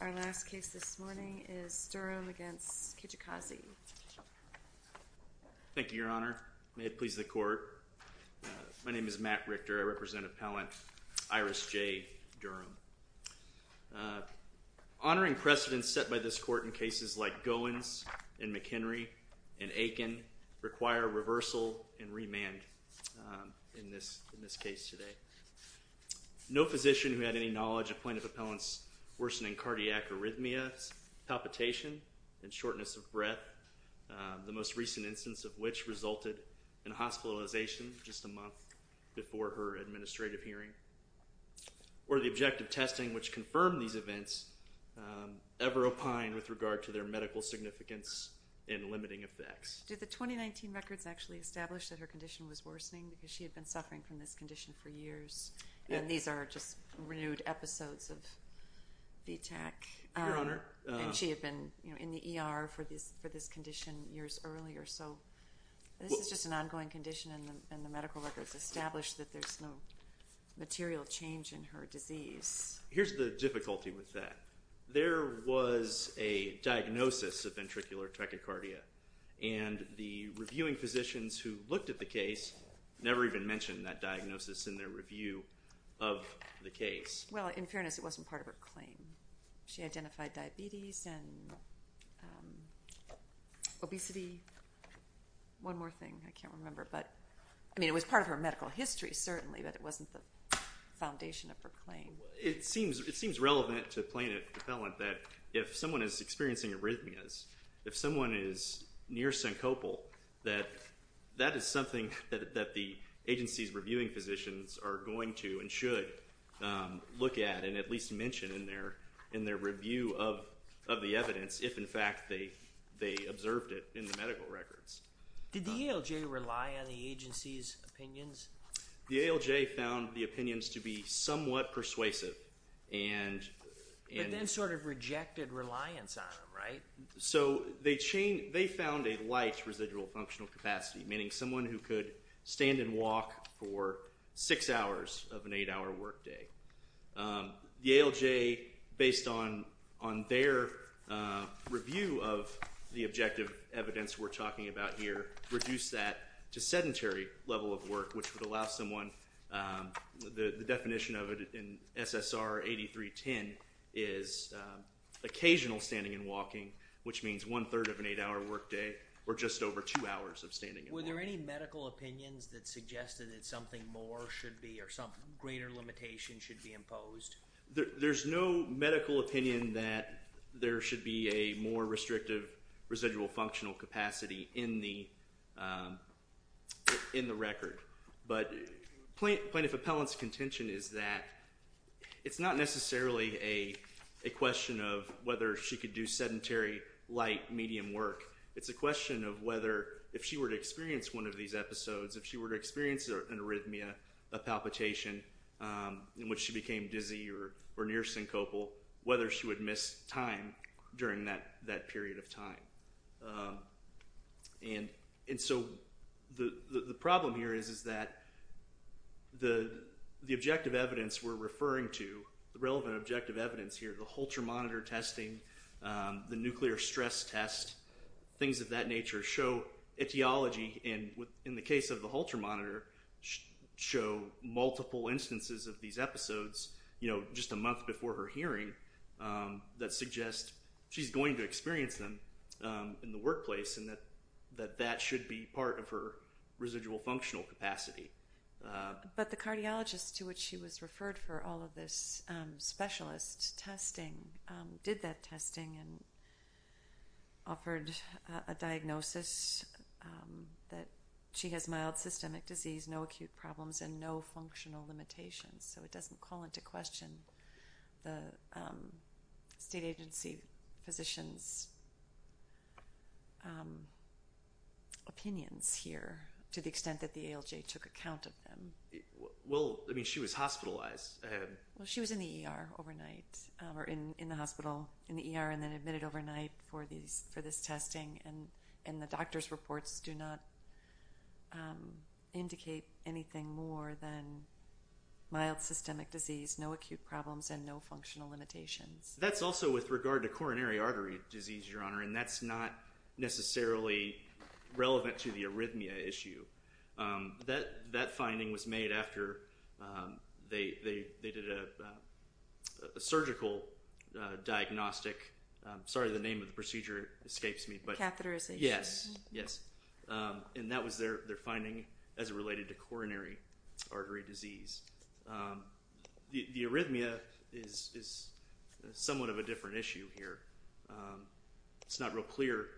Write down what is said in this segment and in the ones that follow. Our last case this morning is Durham v. Kilolo Kijakazi Thank you, Your Honor. May it please the Court. My name is Matt Richter. I represent Appellant Iris J. Durham. Honoring precedents set by this Court in cases like Goins v. McHenry and Aiken require reversal and remand in this case today. No physician who had any knowledge of plaintiff appellants' worsening cardiac arrhythmias, palpitation, and shortness of breath, the most recent instance of which resulted in hospitalization just a month before her administrative hearing, or the objective testing which confirmed these events, ever opine with regard to their medical significance and limiting effects. Did the 2019 records actually establish that her condition was worsening because she had been suffering from this condition for years? And these are just renewed episodes of VTAC. Your Honor. And she had been in the ER for this condition years earlier. So this is just an ongoing condition and the medical records establish that there's no material change in her disease. Here's the difficulty with that. There was a diagnosis of ventricular tachycardia and the reviewing physicians who looked at the condition, that diagnosis in their review of the case. Well, in fairness, it wasn't part of her claim. She identified diabetes and obesity. One more thing, I can't remember, but, I mean, it was part of her medical history, certainly, but it wasn't the foundation of her claim. It seems relevant to plaintiff appellant that if someone is experiencing arrhythmias, if someone is near syncopal, that that is something that the agency's reviewing physicians are going to and should look at and at least mention in their review of the evidence if, in fact, they observed it in the medical records. Did the ALJ rely on the agency's opinions? The ALJ found the opinions to be somewhat persuasive and... But then sort of rejected reliance on them, right? So they found a light residual functional capacity, meaning someone who could stand and walk for six hours of an eight-hour workday. The ALJ, based on their review of the objective evidence we're talking about here, reduced that to sedentary level of work, which would allow someone, the definition of it in SSR 8310 is occasional standing and walking, but which means one-third of an eight-hour workday or just over two hours of standing and walking. Were there any medical opinions that suggested that something more should be or some greater limitation should be imposed? There's no medical opinion that there should be a more restrictive residual functional capacity in the record, but plaintiff appellant's intention is that it's not necessarily a question of whether she could do sedentary light medium work. It's a question of whether, if she were to experience one of these episodes, if she were to experience an arrhythmia, a palpitation in which she became dizzy or near syncopal, whether she would miss time during that period of time. The problem here is that the objective evidence we're referring to, the relevant objective evidence here, the Holter monitor testing, the nuclear stress test, things of that nature show etiology, and in the case of the Holter monitor, show multiple instances of these episodes just a month before her hearing that suggest she's going to experience them in the workplace and that that should be part of her residual functional capacity. But the cardiologist to which she was referred for all of this specialist testing did that testing and offered a diagnosis that she has mild systemic disease, no acute problems, and no functional limitations. So it doesn't call into question the state agency physician's opinions here to the extent that the ALJ took account of them. Well, I mean, she was hospitalized. She was in the ER overnight, or in the hospital, in the ER, and then admitted overnight for this testing, and the doctor's reports do not indicate anything more than mild systemic disease, no acute problems, and no functional limitations. That's also with regard to coronary artery disease, Your Honor, and that's not necessarily relevant to the arrhythmia issue. That finding was made after they did a surgical diagnostic – sorry, the name of the procedure escapes me, but... Catheterization. Yes, yes. And that was their finding as it related to coronary artery disease. The arrhythmia is somewhat of a different issue here. It's not real clear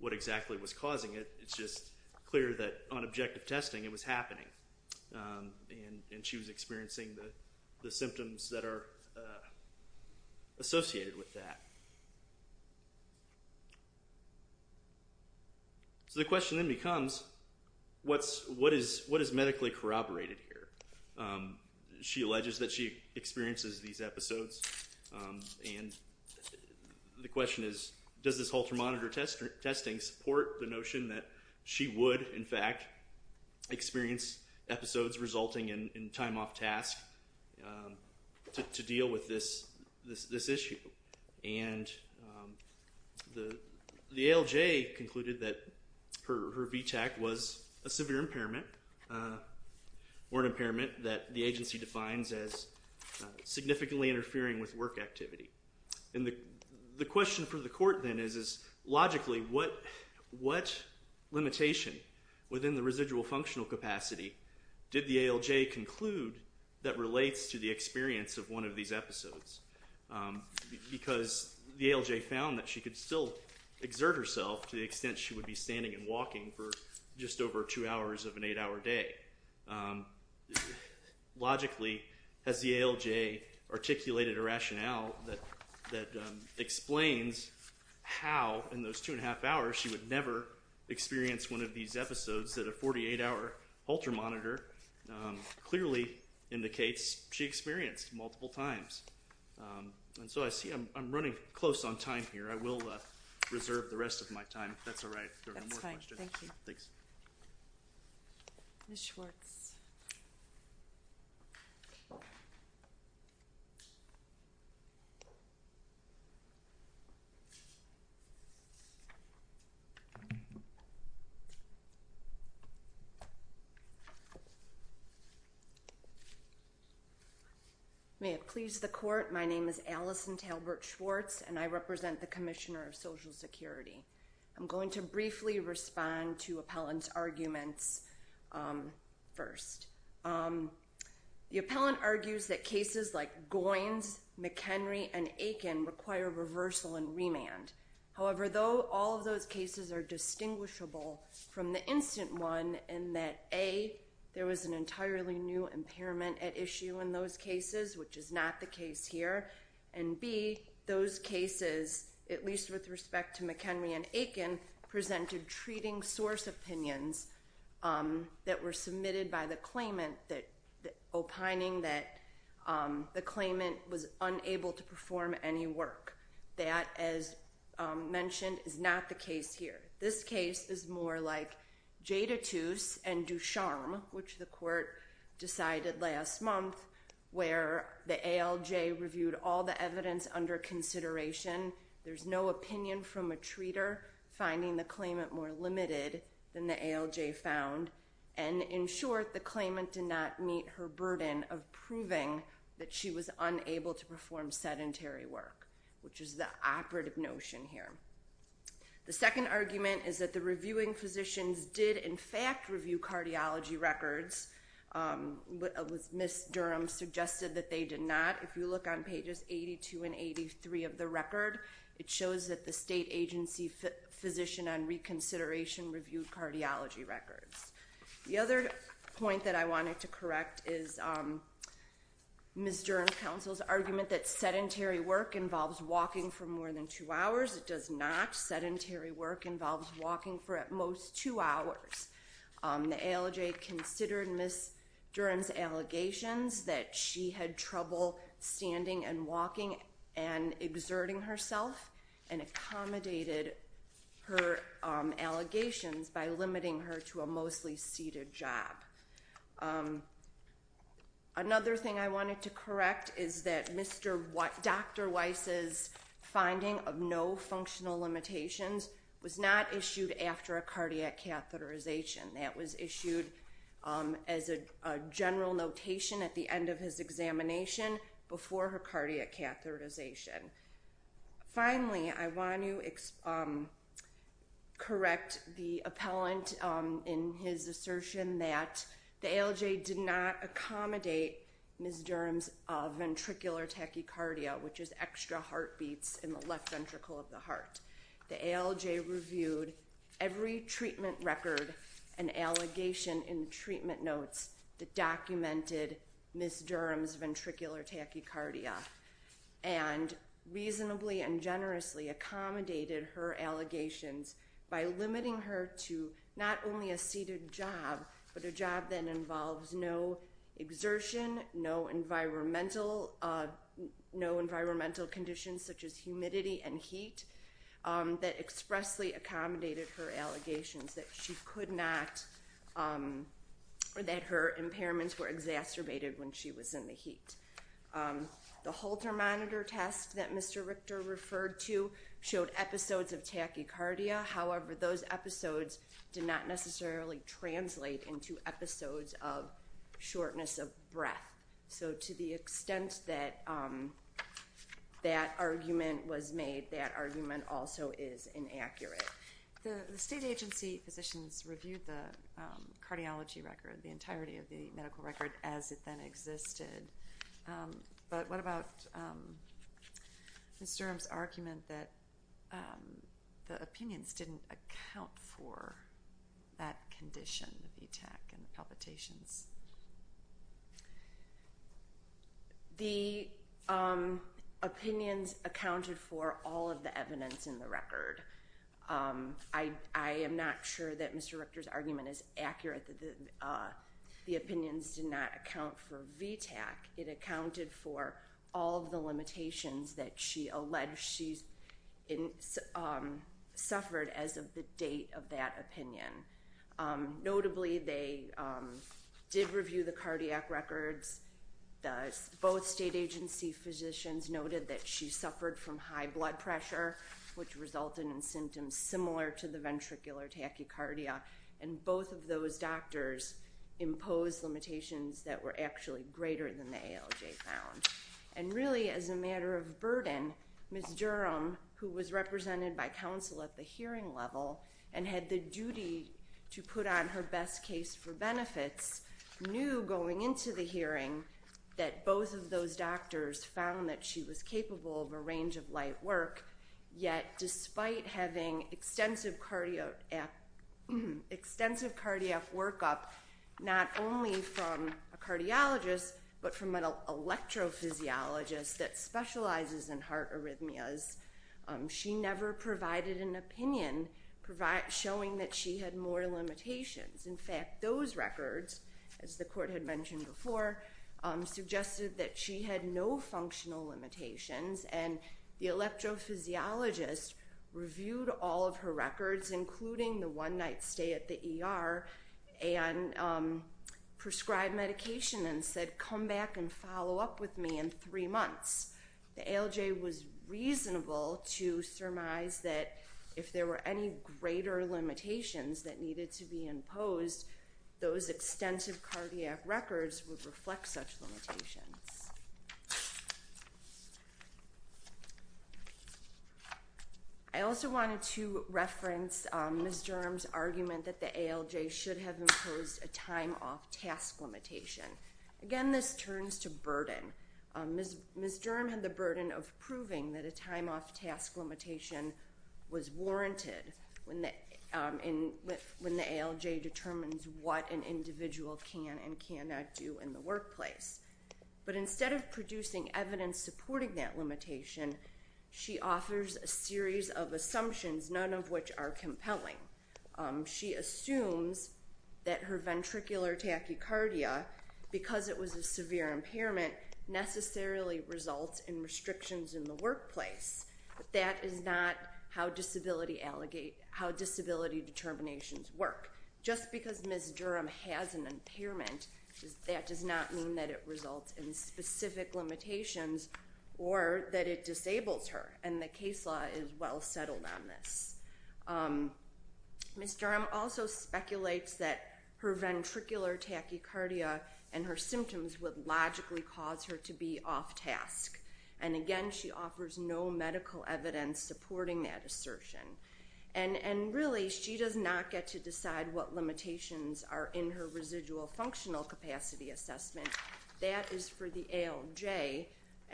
what exactly was causing it. It's just clear that on objective testing it was happening, and she was experiencing the symptoms that are associated with that. So the question then becomes, what is medically corroborated here? She alleges that she experiences these episodes, and the question is, does this halter-monitor testing support the notion that she would, in fact, experience episodes resulting in time off task to deal with this issue? And the ALJ concluded that her VTAC was a severe impairment, or an impairment that the agency defines as significantly interfering with work activity. And the question for the court then is, logically, what limitation within the residual functional capacity did the ALJ conclude that relates to the experience of one of these episodes? Because the ALJ found that she could still exert herself to the extent she would be standing and walking for just over 2 hours of an 8-hour day. Logically, has the ALJ articulated a rationale that explains how in those 2 1⁄2 hours she would never experience one of these episodes that a 48-hour halter-monitor clearly indicates she experienced multiple times? And so I see I'm running close on time here. I will reserve the rest of my time, if that's all right, if there are no more questions. That's fine. Thank you. Thanks. Ms. Schwartz. May it please the Court, my name is Allison Talbert Schwartz, and I represent the Commissioner of Social Security. I'm going to briefly respond to Appellant's arguments first. The Appellant argues that cases like Goins, McHenry, and Aiken require reversal and remand. However, though all of those cases are distinguishable from the instant one in that A, there was an entirely new impairment at issue in those cases, which is not the case here, and B, those cases, at least with respect to McHenry and Aiken, presented treating source opinions that were submitted by the claimant, opining that the claimant was unable to perform any work. That, as mentioned, is not the case here. This case is more like Jadotus and Ducharmes, which the Court decided last month, where the ALJ reviewed all the evidence under consideration. There's no opinion from a treater, finding the claimant more limited than the ALJ found, and in short, the claimant did not meet her burden of proving that she was unable to perform sedentary work, which is the operative notion here. The second argument is that the reviewing physicians did in fact review cardiology records. Ms. Durham suggested that they did not. If you look on pages 82 and 83 of the record, it shows that the state agency physician on reconsideration reviewed cardiology records. The other point that I wanted to correct is Ms. Durham's counsel's argument that sedentary work involves walking for more than two hours. It does not. Sedentary work involves walking for at most two hours. The ALJ considered Ms. Durham's allegations that she had trouble standing and walking and exerting herself, and accommodated her allegations by limiting her to a mostly seated job. Another thing I wanted to correct is that Dr. Weiss's finding of no functional limitations was not issued after a cardiac catheterization. That was issued as a general notation at the end of his examination before her cardiac catheterization. Finally, I want to correct the appellant in his assertion that the ALJ did not accommodate Ms. Durham's ventricular tachycardia, which is extra heartbeats in the left ventricle of the heart. The ALJ reviewed every treatment record and allegation in the treatment notes that documented Ms. Durham's ventricular tachycardia, and reasonably and generously accommodated her allegations by limiting her to not only a seated job, but a job that involves no exertion, no environmental conditions such as humidity and heat, that expressly accommodated her allegations that her impairments were exacerbated when she was in the heat. The Holter monitor test that Mr. Richter referred to showed episodes of shortness of breath. So to the extent that that argument was made, that argument also is inaccurate. The state agency physicians reviewed the cardiology record, the entirety of the medical record, as it then existed, but what about Ms. Durham's argument that the opinions didn't account for that condition, the VTAC and the palpitations? The opinions accounted for all of the evidence in the record. I am not sure that Mr. Richter's argument is accurate, that the opinions did not account for VTAC. It accounted for all of the limitations that she alleged she suffered as of the date of that opinion. Notably, they did review the cardiac records. Both state agency physicians noted that she suffered from high blood pressure, which resulted in symptoms similar to the ventricular tachycardia, and both of those doctors imposed limitations that were actually greater than the ALJ found. And really, as a matter of burden, Ms. Durham, who was represented by counsel at the hearing level and had the duty to put on her best case for benefits, knew going into the hearing that both of those doctors found that she was capable of a range of light work, yet despite having extensive cardiac workup, not only from a cardiologist, but from an electrophysiologist, that specializes in heart arrhythmias, she never provided an opinion showing that she had more limitations. In fact, those records, as the court had mentioned before, suggested that she had no functional limitations, and the electrophysiologist reviewed all of her records, including the one-night stay at the ER, and prescribed medication and said, come back and follow up with me in three months. The ALJ was reasonable to surmise that if there were any greater limitations that needed to be imposed, those extensive cardiac records would reflect such limitations. I also wanted to reference Ms. Durham's argument that the ALJ should have imposed a time-off task limitation. Again, this turns to burden. Ms. Durham had the burden of proving that a time-off task limitation was warranted when the ALJ determines what an individual can and cannot do in the workplace. But instead of producing evidence supporting that limitation, she offers a series of assumptions, none of which are compelling. She assumes that her ventricular tachycardia, because it was a severe impairment, necessarily results in restrictions in the workplace. That is not how disability determinations work. Just because Ms. Durham has an impairment, that does not mean that it results in specific limitations or that it disables her, and the ALJ does not. Ms. Durham also speculates that her ventricular tachycardia and her symptoms would logically cause her to be off-task. And again, she offers no medical evidence supporting that assertion. And really, she does not get to decide what limitations are in her residual functional capacity assessment. That is for the ALJ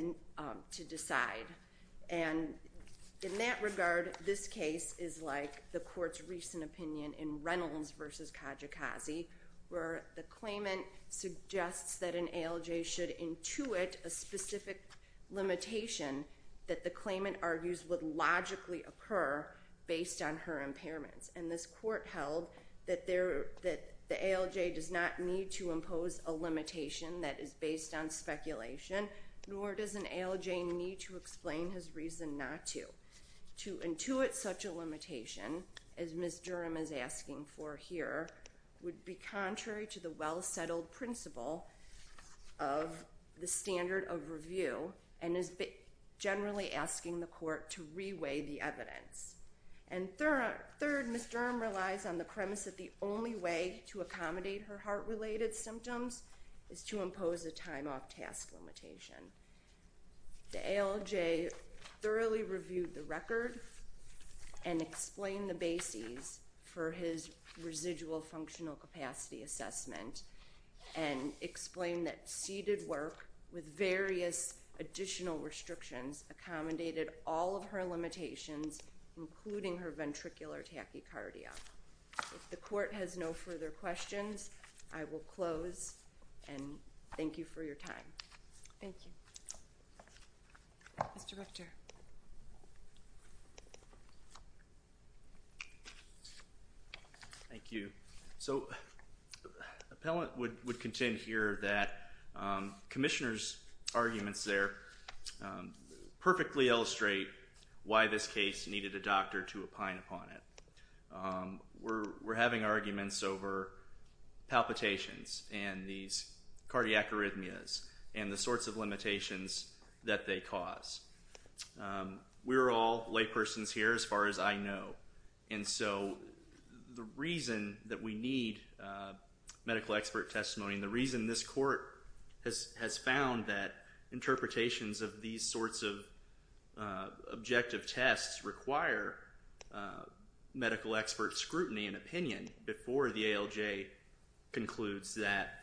to decide. And in that regard, this case is like the Court's recent opinion in Reynolds v. Kajikazi, where the claimant suggests that an ALJ should intuit a specific limitation that the claimant argues would logically occur based on her impairments. And this Court held that the ALJ does not need to impose a limitation that is based on speculation, nor does an ALJ need to explain his reason not to. To intuit such a limitation, as Ms. Durham is asking for here, would be contrary to the well-settled principle of the standard of review, and is generally asking the Court to re-weigh the evidence. And third, Ms. Durham relies on the premise that the only way to accommodate her heart-related symptoms is to impose a time-off task limitation. The ALJ thoroughly reviewed the record and explained the bases for his residual functional capacity assessment, and explained that seated work with various additional restrictions accommodated all of her limitations, including her ventricular tachycardia. If the Court has no further questions, I will close, and thank you for your time. Thank you. Mr. Richter. Thank you. So the appellant would contend here that Commissioner's arguments there perfectly illustrate why this case needed a doctor to opine upon it. We're having arguments over palpitations and these cardiac arrhythmias and the sorts of limitations that they cause. We're all laypersons here, as far as I know, and so the reason that we need medical expert testimony, and the reason this Court has found that interpretations of these sorts of objective tests require medical expert scrutiny and opinion before the ALJ concludes that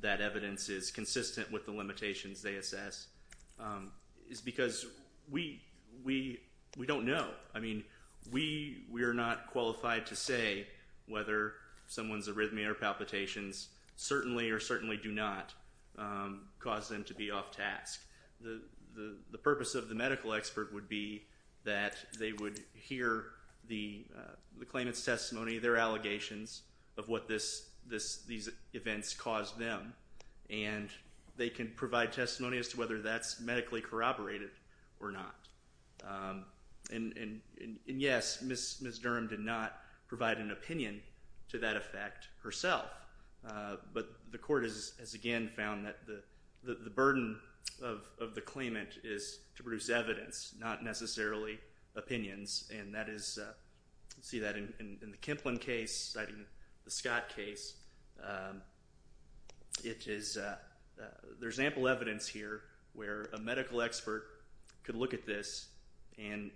that evidence is consistent with the limitations they assess, is because we don't know. I mean, we are not qualified to say whether someone's arrhythmia or palpitations certainly or certainly do not cause them to be off task. The purpose of the medical expert would be that they would hear the claimant's testimony, their allegations of what these events caused them, and they can provide testimony as to whether that's medically corroborated or not. And yes, Ms. Durham did not provide an opinion to that effect herself, but the Court has again found that the burden of the claimant is to produce evidence, not necessarily opinions, and that is, you can see that in the Kimplin case, the Scott case, it is, there's very little example evidence here where a medical expert could look at this and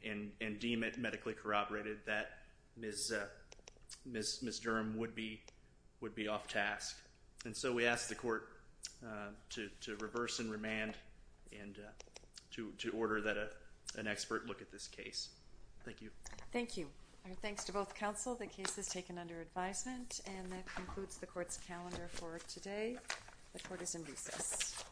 deem it medically corroborated that Ms. Durham would be off task. And so we ask the Court to reverse and remand and to order that an expert look at this case. Thank you. Thank you. Our thanks to both counsel. The case is taken under advisement, and that concludes the Court's calendar for today. The Court is in busis.